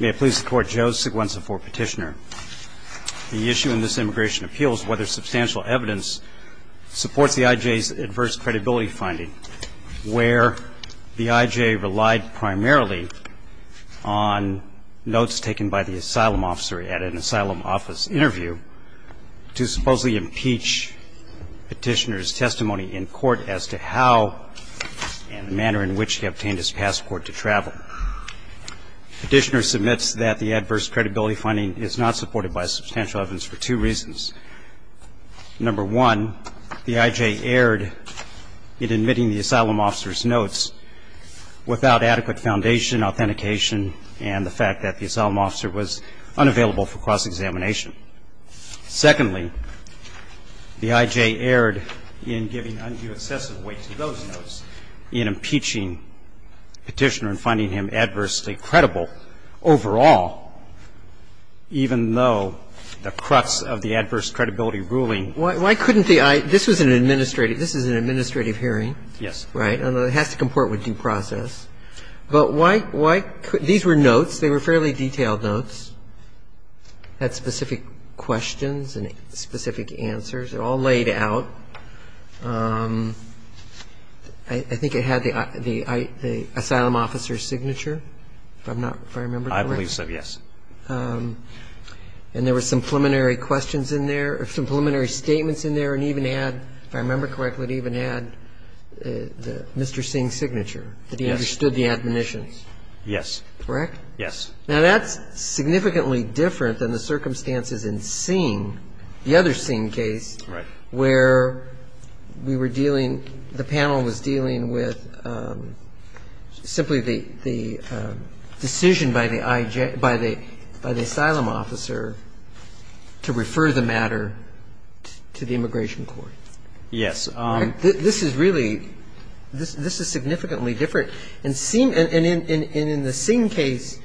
May it please the court, Joe Seguenza for petitioner. The issue in this immigration appeal is whether substantial evidence supports the IJ's adverse credibility finding, where the IJ relied primarily on notes taken by the asylum officer at an asylum office interview to supposedly impeach petitioner's testimony in court as to how and the manner in which he obtained his passport to travel. Petitioner submits that the adverse credibility finding is not supported by substantial evidence for two reasons. Number one, the IJ erred in admitting the asylum officer's notes without adequate foundation, authentication and the fact that the asylum officer was unavailable for cross-examination. Secondly, the IJ erred in giving undue excessive weight to those notes in impeaching petitioner and finding him adversely credible overall, even though the crux of the adverse credibility ruling was not supported. Why couldn't the IJ – this was an administrative – this is an administrative hearing. Yes. And it has to comport with due process. But why – these were notes. They were fairly detailed notes that had specific questions and specific answers. They're all laid out. I think it had the asylum officer's signature, if I'm not – if I remember correctly. I believe so, yes. And there were some preliminary questions in there or some preliminary statements in there and even had, if I remember correctly, it even had Mr. Singh's signature. Yes. And he understood the admonitions. Yes. Correct? Yes. Now, that's significantly different than the circumstances in Singh, the other Singh case, where we were dealing – the panel was dealing with simply the decision by the IJ – by the asylum officer to refer the matter to the immigration court. Yes. This is really – this is significantly different. And in the Singh case,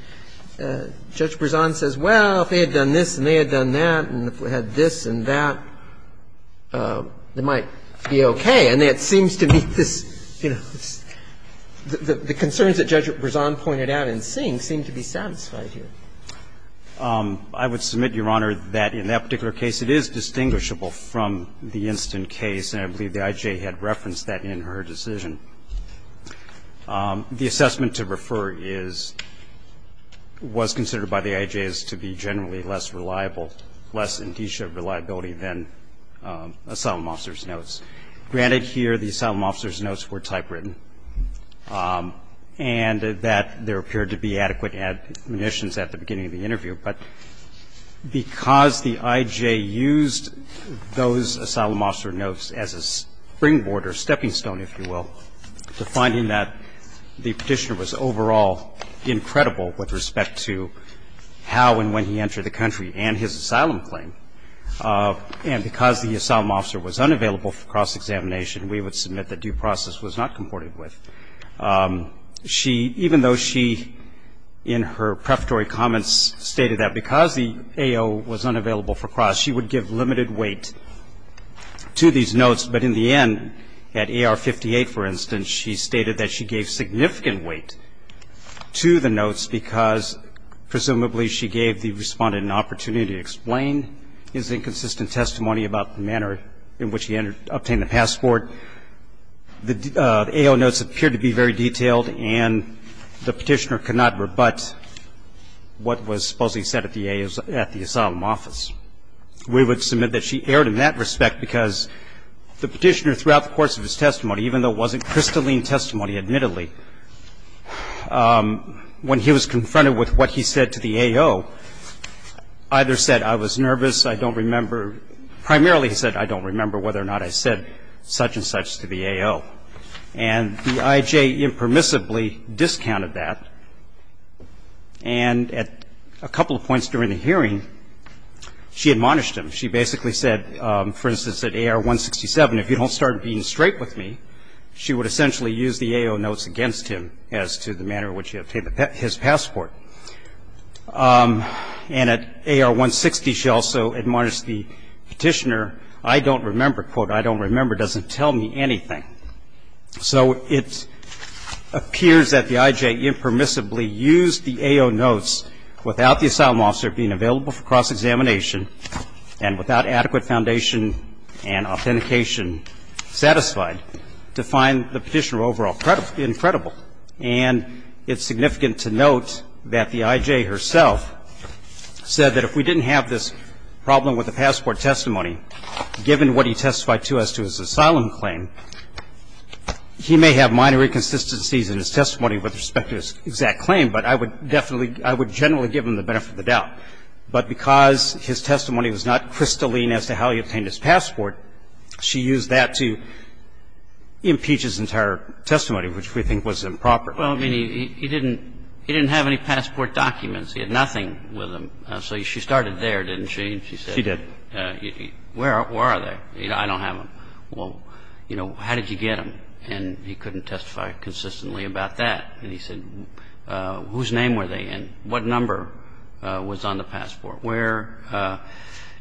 Judge Berzon says, well, if they had done this and they had done that and if we had this and that, it might be okay. And that seems to be this – you know, the concerns that Judge Berzon pointed out in Singh seem to be satisfied here. I would submit, Your Honor, that in that particular case, it is distinguishable from the instant case, and I believe the IJ had referenced that in her decision. The assessment to refer is – was considered by the IJ as to be generally less reliable, less indicia of reliability than asylum officer's notes. Granted, here the asylum officer's notes were typewritten and that there appeared to be adequate admonitions at the beginning of the interview, but because the IJ used those asylum officer notes as a springboard or stepping stone, if you will, to finding that the Petitioner was overall incredible with respect to how and when he entered the country and his asylum claim, and because the asylum officer was unavailable for cross-examination, we would submit that due process was not comported with. She – even though she, in her prefatory comments, stated that because the AO was unavailable for cross, she would give limited weight to these notes, but in the end at AR-58, for instance, she stated that she gave significant weight to the notes because presumably she gave the Respondent an opportunity to explain his inconsistent testimony about the manner in which he obtained the passport. However, the AO notes appeared to be very detailed and the Petitioner could not rebut what was supposedly said at the AO's – at the asylum office. We would submit that she erred in that respect because the Petitioner throughout the course of his testimony, even though it wasn't crystalline testimony, admittedly, when he was confronted with what he said to the AO, either said, I was nervous, I don't remember. Primarily he said, I don't remember whether or not I said such and such to the AO. And the IJ impermissibly discounted that. And at a couple of points during the hearing, she admonished him. She basically said, for instance, at AR-167, if you don't start being straight with me, she would essentially use the AO notes against him as to the manner in which he obtained his passport. And at AR-160, she also admonished the Petitioner, I don't remember, quote, I don't remember doesn't tell me anything. So it appears that the IJ impermissibly used the AO notes without the asylum officer being available for cross-examination and without adequate foundation and authentication satisfied to find the Petitioner overall incredible. And it's significant to note that the IJ herself said that if we didn't have this problem with the passport testimony, given what he testified to as to his asylum claim, he may have minor inconsistencies in his testimony with respect to his exact claim, but I would definitely, I would generally give him the benefit of the doubt. But because his testimony was not crystalline as to how he obtained his passport, she used that to impeach his entire testimony, which we think was improper. Well, I mean, he didn't have any passport documents. He had nothing with him. So she started there, didn't she? She did. Where are they? I don't have them. Well, you know, how did you get them? And he couldn't testify consistently about that. And he said, whose name were they in? What number was on the passport? Where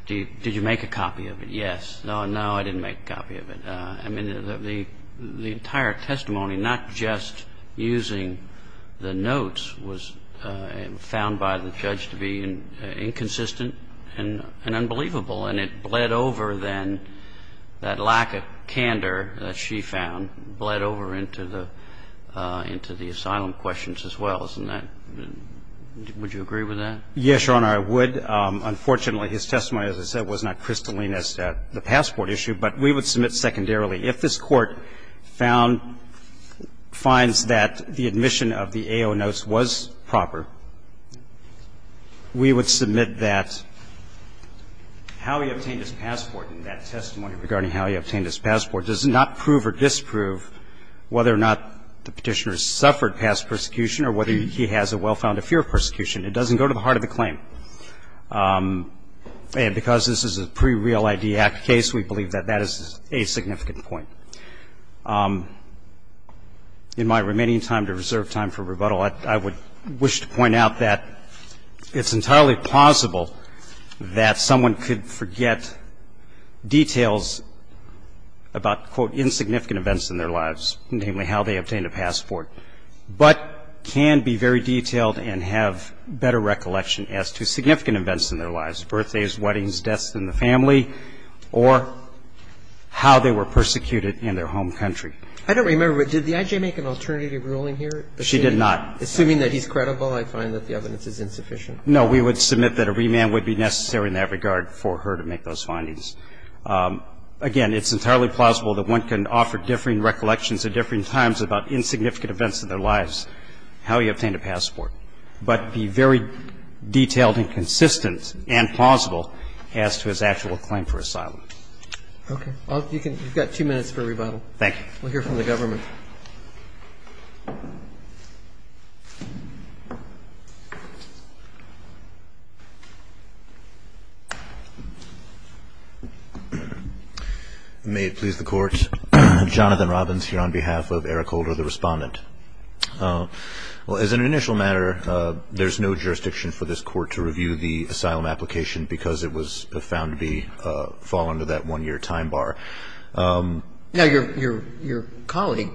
did you make a copy of it? Yes. No, I didn't make a copy of it. I mean, the entire testimony, not just using the notes, was found by the judge to be inconsistent and unbelievable. And it bled over, then, that lack of candor that she found, bled over into the asylum questions as well, isn't that? Yes, Your Honor, I would. Unfortunately, his testimony, as I said, was not crystalline as the passport issue, but we would submit secondarily. If this Court found, finds that the admission of the AO notes was proper, we would submit that how he obtained his passport in that testimony regarding how he obtained his passport does not prove or disprove whether or not the Petitioner suffered past persecution or whether he has a well-founded fear of persecution. It doesn't go to the heart of the claim. And because this is a pre-Real ID Act case, we believe that that is a significant point. In my remaining time to reserve time for rebuttal, I would wish to point out that it's entirely possible that someone could forget details about, quote, insignificant events in their lives, namely how they obtained a passport, but can be very detailed and have better recollection as to significant events in their lives, birthdays, weddings, deaths in the family, or how they were persecuted in their home country. I don't remember. Did the I.J. make an alternative ruling here? She did not. Assuming that he's credible, I find that the evidence is insufficient. No, we would submit that a remand would be necessary in that regard for her to make those findings. Again, it's entirely plausible that one can offer differing recollections at differing times about insignificant events in their lives, how he obtained a passport, but be very detailed and consistent and plausible as to his actual claim for asylum. Okay. Well, you've got two minutes for rebuttal. Thank you. We'll hear from the government. Thank you. May it please the Court. Jonathan Robbins here on behalf of Eric Holder, the Respondent. As an initial matter, there's no jurisdiction for this Court to review the asylum application because it was found to fall under that one-year time bar. Now, your colleague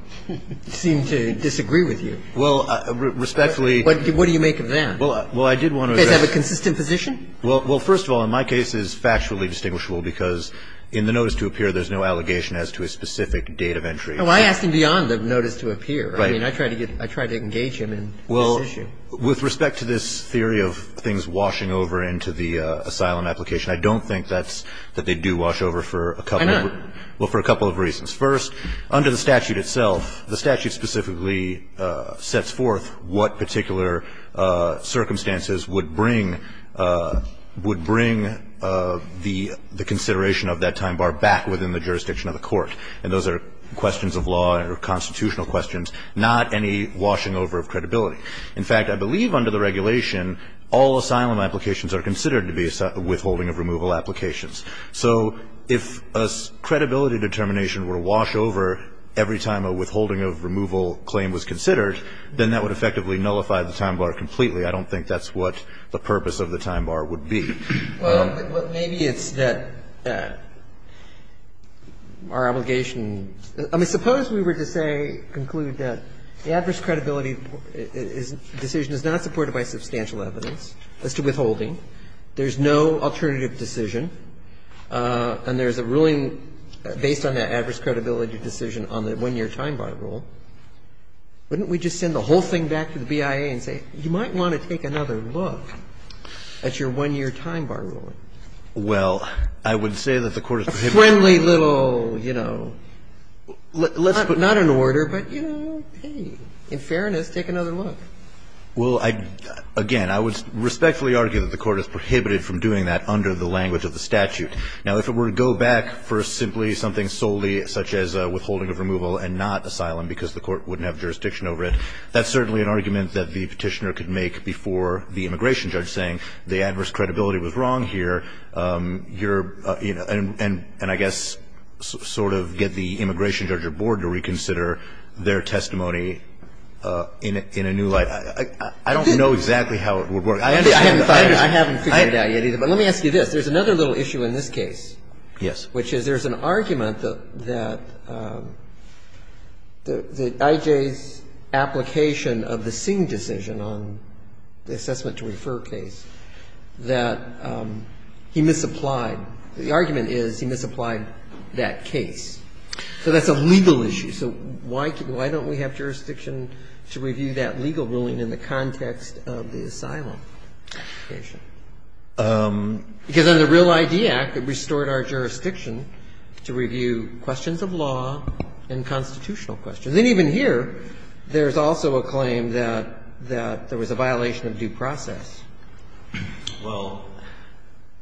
seemed to disagree with you. Well, respectfully. What do you make of that? Well, I did want to address. Does he have a consistent position? Well, first of all, in my case, it's factually distinguishable because in the notice to appear, there's no allegation as to a specific date of entry. Well, I asked him beyond the notice to appear. Right. I mean, I tried to engage him in this issue. Well, with respect to this theory of things washing over into the asylum application, I don't think that's that they do wash over for a couple of weeks. Well, for a couple of reasons. First, under the statute itself, the statute specifically sets forth what particular circumstances would bring the consideration of that time bar back within the jurisdiction of the Court. And those are questions of law or constitutional questions, not any washing over of credibility. In fact, I believe under the regulation, all asylum applications are considered to be withholding of removal applications. So if a credibility determination were to wash over every time a withholding of removal claim was considered, then that would effectively nullify the time bar completely. I don't think that's what the purpose of the time bar would be. Well, maybe it's that our obligation – I mean, suppose we were to say, conclude that the adverse credibility decision is not supported by substantial evidence as to withholding. There's no alternative decision. And there's a ruling based on that adverse credibility decision on the one-year time bar rule. Wouldn't we just send the whole thing back to the BIA and say, you might want to take another look at your one-year time bar ruling? Well, I would say that the Court has prohibited it. A friendly little, you know, not an order, but, you know, hey, in fairness, take another look. Well, again, I would respectfully argue that the Court has prohibited from doing that under the language of the statute. Now, if it were to go back for simply something solely such as withholding of removal and not asylum because the Court wouldn't have jurisdiction over it, that's certainly an argument that the petitioner could make before the immigration judge, saying the adverse credibility was wrong here, and I guess sort of get the I don't know exactly how it would work. I haven't figured it out yet either. But let me ask you this. There's another little issue in this case. Yes. Which is there's an argument that I.J.'s application of the Singh decision on the assessment to refer case, that he misapplied. The argument is he misapplied that case. So that's a legal issue. So why don't we have jurisdiction to review that legal ruling in the context of the asylum application? Because under the Real ID Act, it restored our jurisdiction to review questions of law and constitutional questions. And even here, there's also a claim that there was a violation of due process. Well.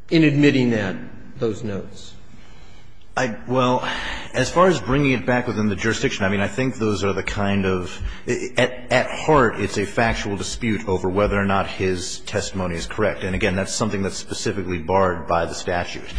In admitting that, those notes. Well, as far as bringing it back within the jurisdiction, I mean, I think those are the kind of, at heart, it's a factual dispute over whether or not his testimony is correct. And, again, that's something that's specifically barred by the statute.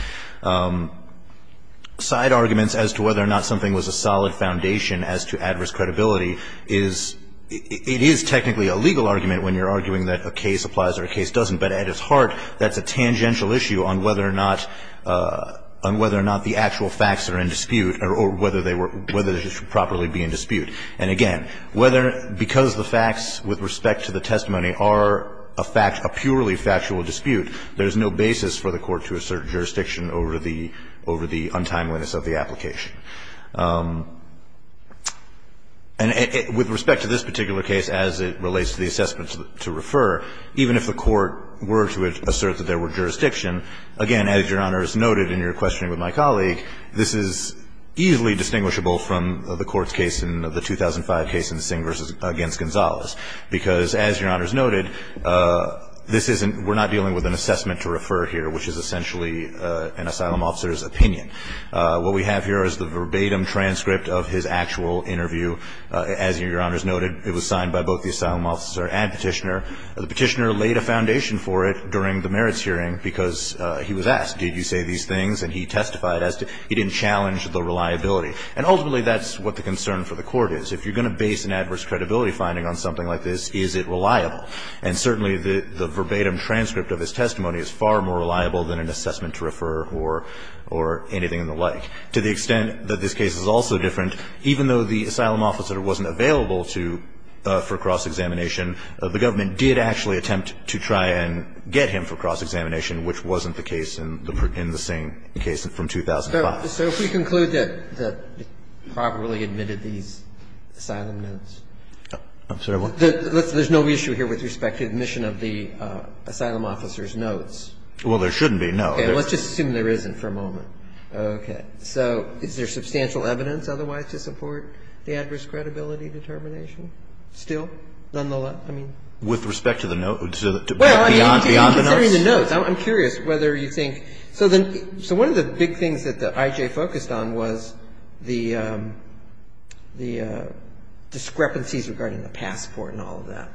Side arguments as to whether or not something was a solid foundation as to adverse credibility is, it is technically a legal argument when you're arguing that a case applies or a case doesn't, but at its heart, that's a tangential issue on whether or not the actual facts are in dispute or whether they should properly be in dispute. And, again, because the facts with respect to the testimony are a purely factual dispute, there's no basis for the Court to assert jurisdiction over the untimeliness of the application. And with respect to this particular case as it relates to the assessment to refer, even if the Court were to assert that there were jurisdiction, again, as Your Honor has noted in your questioning with my colleague, this is easily distinguishable from the Court's case in the 2005 case in Singh v. against Gonzalez. Because, as Your Honor has noted, this isn't, we're not dealing with an assessment to refer here, which is essentially an asylum officer's opinion. What we have here is the verbatim transcript of his actual interview. As Your Honor has noted, it was signed by both the asylum officer and Petitioner. The Petitioner laid a foundation for it during the merits hearing because he was asked, did you say these things, and he testified as to, he didn't challenge the reliability. And, ultimately, that's what the concern for the Court is. If you're going to base an adverse credibility finding on something like this, is it reliable? And, certainly, the verbatim transcript of his testimony is far more reliable than an assessment to refer or anything in the like. To the extent that this case is also different, even though the asylum officer wasn't available to, for cross-examination, the government did actually attempt to try and get him for cross-examination, which wasn't the case in the Singh case from 2005. So if we conclude that he probably admitted these asylum notes. I'm sorry, what? There's no issue here with respect to admission of the asylum officer's notes. Well, there shouldn't be, no. Okay. Let's just assume there isn't for a moment. Okay. So is there substantial evidence otherwise to support the adverse credibility determination still? Nonetheless? I mean. With respect to the notes. Well, I mean, considering the notes, I'm curious whether you think. So one of the big things that the I.J. focused on was the discrepancies regarding the passport and all of that.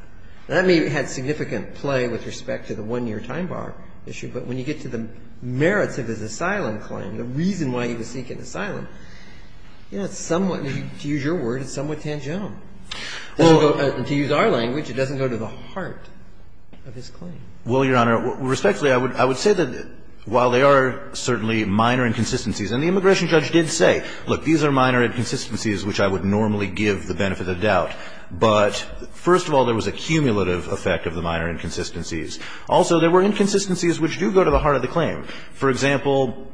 That may have had significant play with respect to the one-year time bar issue, but when you get to the merits of his asylum claim, the reason why he was seeking asylum, you know, it's somewhat, to use your word, it's somewhat tangential. Well. To use our language, it doesn't go to the heart of his claim. Well, Your Honor, respectfully, I would say that while there are certainly minor inconsistencies, and the immigration judge did say, look, these are minor inconsistencies which I would normally give the benefit of doubt, but first of all, there was a cumulative effect of the minor inconsistencies. Also, there were inconsistencies which do go to the heart of the claim. For example,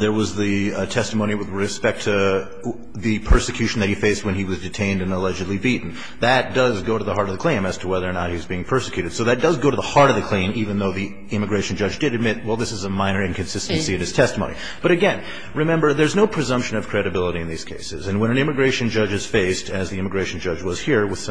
there was the testimony with respect to the persecution that he faced when he was detained and allegedly beaten. That does go to the heart of the claim as to whether or not he was being persecuted. So that does go to the heart of the claim, even though the immigration judge did admit, well, this is a minor inconsistency in his testimony. But again, remember, there's no presumption of credibility in these cases. And when an immigration judge is faced, as the immigration judge was here, with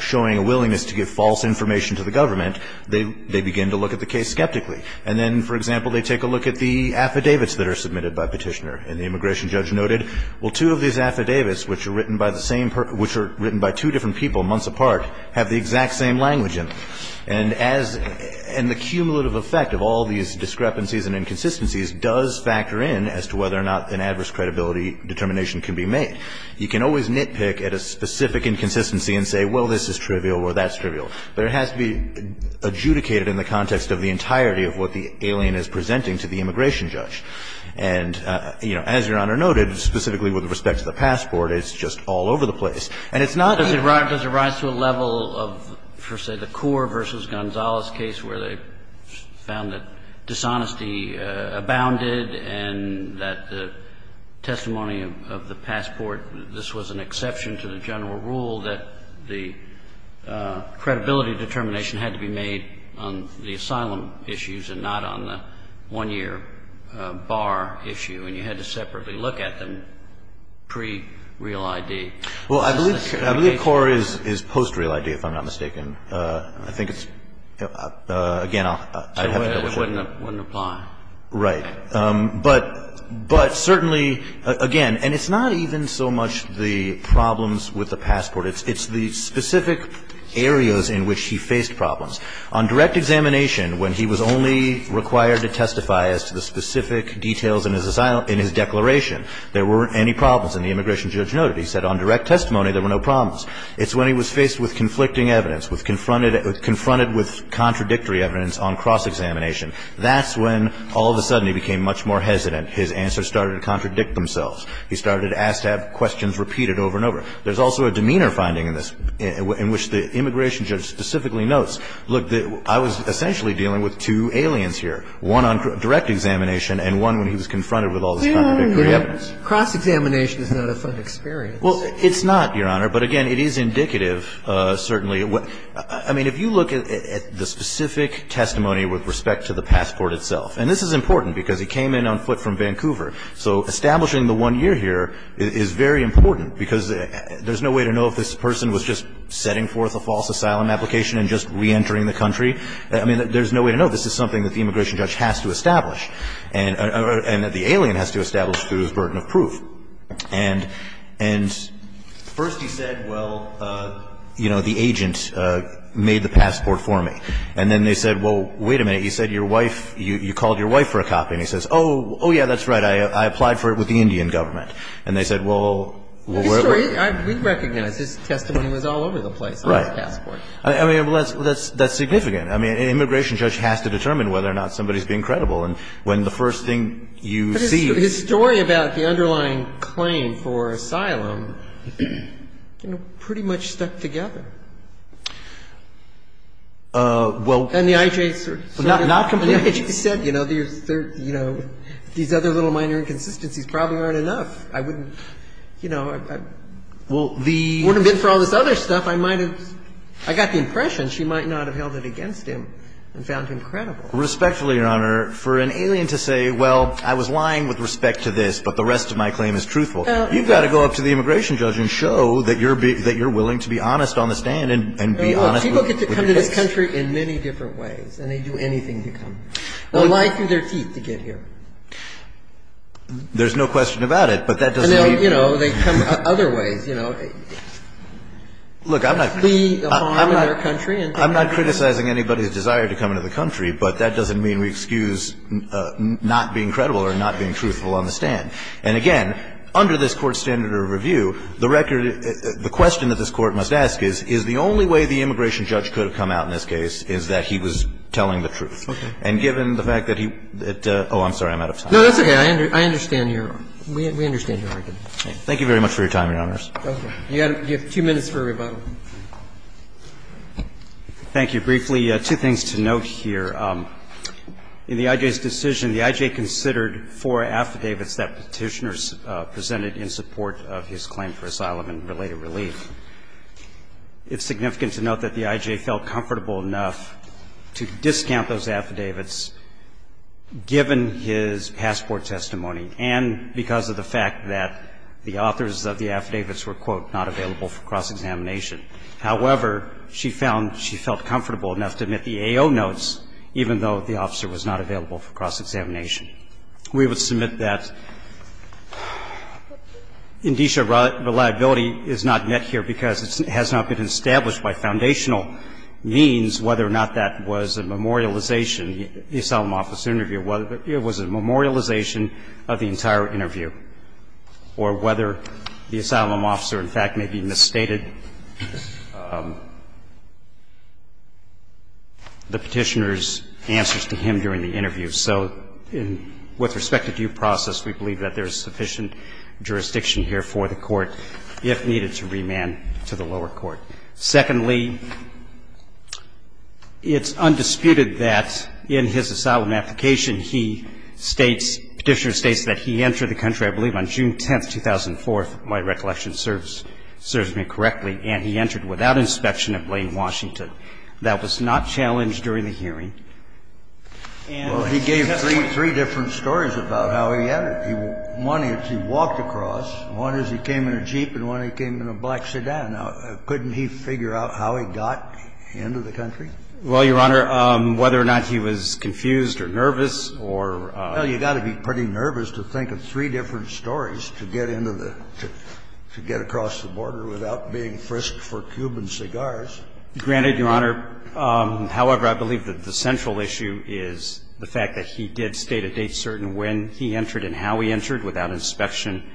showing a willingness to give false information to the government, they begin to look at the case skeptically. And then, for example, they take a look at the affidavits that are submitted by Petitioner. And the immigration judge noted, well, two of these affidavits, which are written by the same person, which are written by two different people months apart, have the exact same language in them. And as the cumulative effect of all these discrepancies and inconsistencies does factor in as to whether or not an adverse credibility determination can be made. You can always nitpick at a specific inconsistency and say, well, this is trivial or that's trivial. But it has to be adjudicated in the context of the entirety of what the alien is presenting to the immigration judge. And, you know, as Your Honor noted, specifically with respect to the passport, it's just all over the place. And it's not that it's not. Kennedy. Does it rise to a level of, for say, the Coor v. Gonzalez case where they found that dishonesty abounded and that the testimony of the passport, this was an exception to the general rule that the credibility determination had to be made on the asylum issues and not on the one-year bar issue, and you had to separately look at them pre-real I.D.? Well, I believe Coor is post-real I.D., if I'm not mistaken. I think it's, again, I have no question. It wouldn't apply. Right. But certainly, again, and it's not even so much the problems with the passport. It's the specific areas in which he faced problems. On direct examination, when he was only required to testify as to the specific details in his declaration, there weren't any problems. He said on direct testimony there were no problems. It's when he was faced with conflicting evidence, confronted with contradictory evidence on cross-examination. That's when all of a sudden he became much more hesitant. His answers started to contradict themselves. He started asked to have questions repeated over and over. There's also a demeanor finding in this in which the immigration judge specifically notes, look, I was essentially dealing with two aliens here, one on direct examination and one when he was confronted with all this contradictory evidence. Cross-examination is not a fun experience. Well, it's not, Your Honor. But, again, it is indicative, certainly. I mean, if you look at the specific testimony with respect to the passport itself and this is important because he came in on foot from Vancouver. So establishing the one year here is very important because there's no way to know if this person was just setting forth a false asylum application and just reentering the country. I mean, there's no way to know. This is something that the immigration judge has to establish and that the alien has to establish through his burden of proof. And first he said, well, you know, the agent made the passport for me. And then they said, well, wait a minute. He said, your wife, you called your wife for a copy. And he says, oh, yeah, that's right. I applied for it with the Indian government. And they said, well, we're going to. We recognize his testimony was all over the place on his passport. Right. I mean, that's significant. I mean, an immigration judge has to determine whether or not somebody is being credible. And when the first thing you see. His story about the underlying claim for asylum, you know, pretty much stuck together. Well. And the I.J. sort of. Not completely. He said, you know, these other little minor inconsistencies probably aren't enough. I wouldn't, you know. Well, the. It wouldn't have been for all this other stuff. I might have. I got the impression she might not have held it against him and found him credible. Respectfully, Your Honor, for an alien to say, well, I was lying with respect to this, but the rest of my claim is truthful. You've got to go up to the immigration judge and show that you're willing to be honest on the stand and be honest. People get to come to this country in many different ways. And they do anything to come. They'll lie through their teeth to get here. There's no question about it. But that doesn't mean. You know, they come other ways, you know. Look, I'm not. I'm not criticizing anybody's desire to come into the country, but that doesn't mean we excuse not being credible or not being truthful on the stand. And again, under this Court's standard of review, the record of the question that this Court must ask is, is the only way the immigration judge could have come out in this case is that he was telling the truth. Okay. And given the fact that he. Oh, I'm sorry. I'm out of time. No, that's okay. I understand your argument. We understand your argument. Thank you very much for your time, Your Honors. Okay. You have two minutes for rebuttal. Thank you briefly. Two things to note here. In the I.J.'s decision, the I.J. considered four affidavits that Petitioner presented in support of his claim for asylum and related relief. It's significant to note that the I.J. felt comfortable enough to discount those affidavits given his passport testimony and because of the fact that the authors of the affidavits were, quote, not available for cross-examination. However, she found she felt comfortable enough to admit the AO notes, even though the officer was not available for cross-examination. We would submit that indicia reliability is not met here because it has not been established by foundational means whether or not that was a memorialization of the entire interview or whether the asylum officer, in fact, may be misstated the Petitioner's answers to him during the interview. So with respect to due process, we believe that there is sufficient jurisdiction here for the Court if needed to remand to the lower court. Secondly, it's undisputed that in his asylum application, he states, Petitioner states that he entered the country, I believe, on June 10th, 2004, if my recollection serves me correctly, and he entered without inspection in Blaine, Washington. That was not challenged during the hearing. And he gave three different stories about how he entered. One is he walked across. One is he came in a Jeep and one he came in a black sedan. Couldn't he figure out how he got into the country? Well, Your Honor, whether or not he was confused or nervous or you got to be pretty nervous to think of three different stories to get into the to get across the border without being frisked for Cuban cigars. Granted, Your Honor, however, I believe that the central issue is the fact that he did state a date certain when he entered and how he entered without inspection,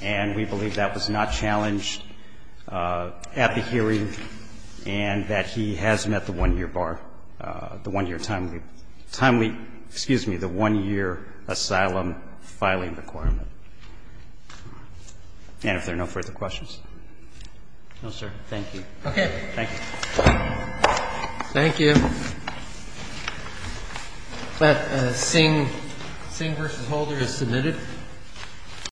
and we believe that was not challenged at the hearing and that he has met the 1-year bar, the 1-year timely, timely, excuse me, the 1-year asylum filing requirement. And if there are no further questions. No, sir. Thank you. Okay. Thank you. Thank you. That Sing v. Holder is submitted.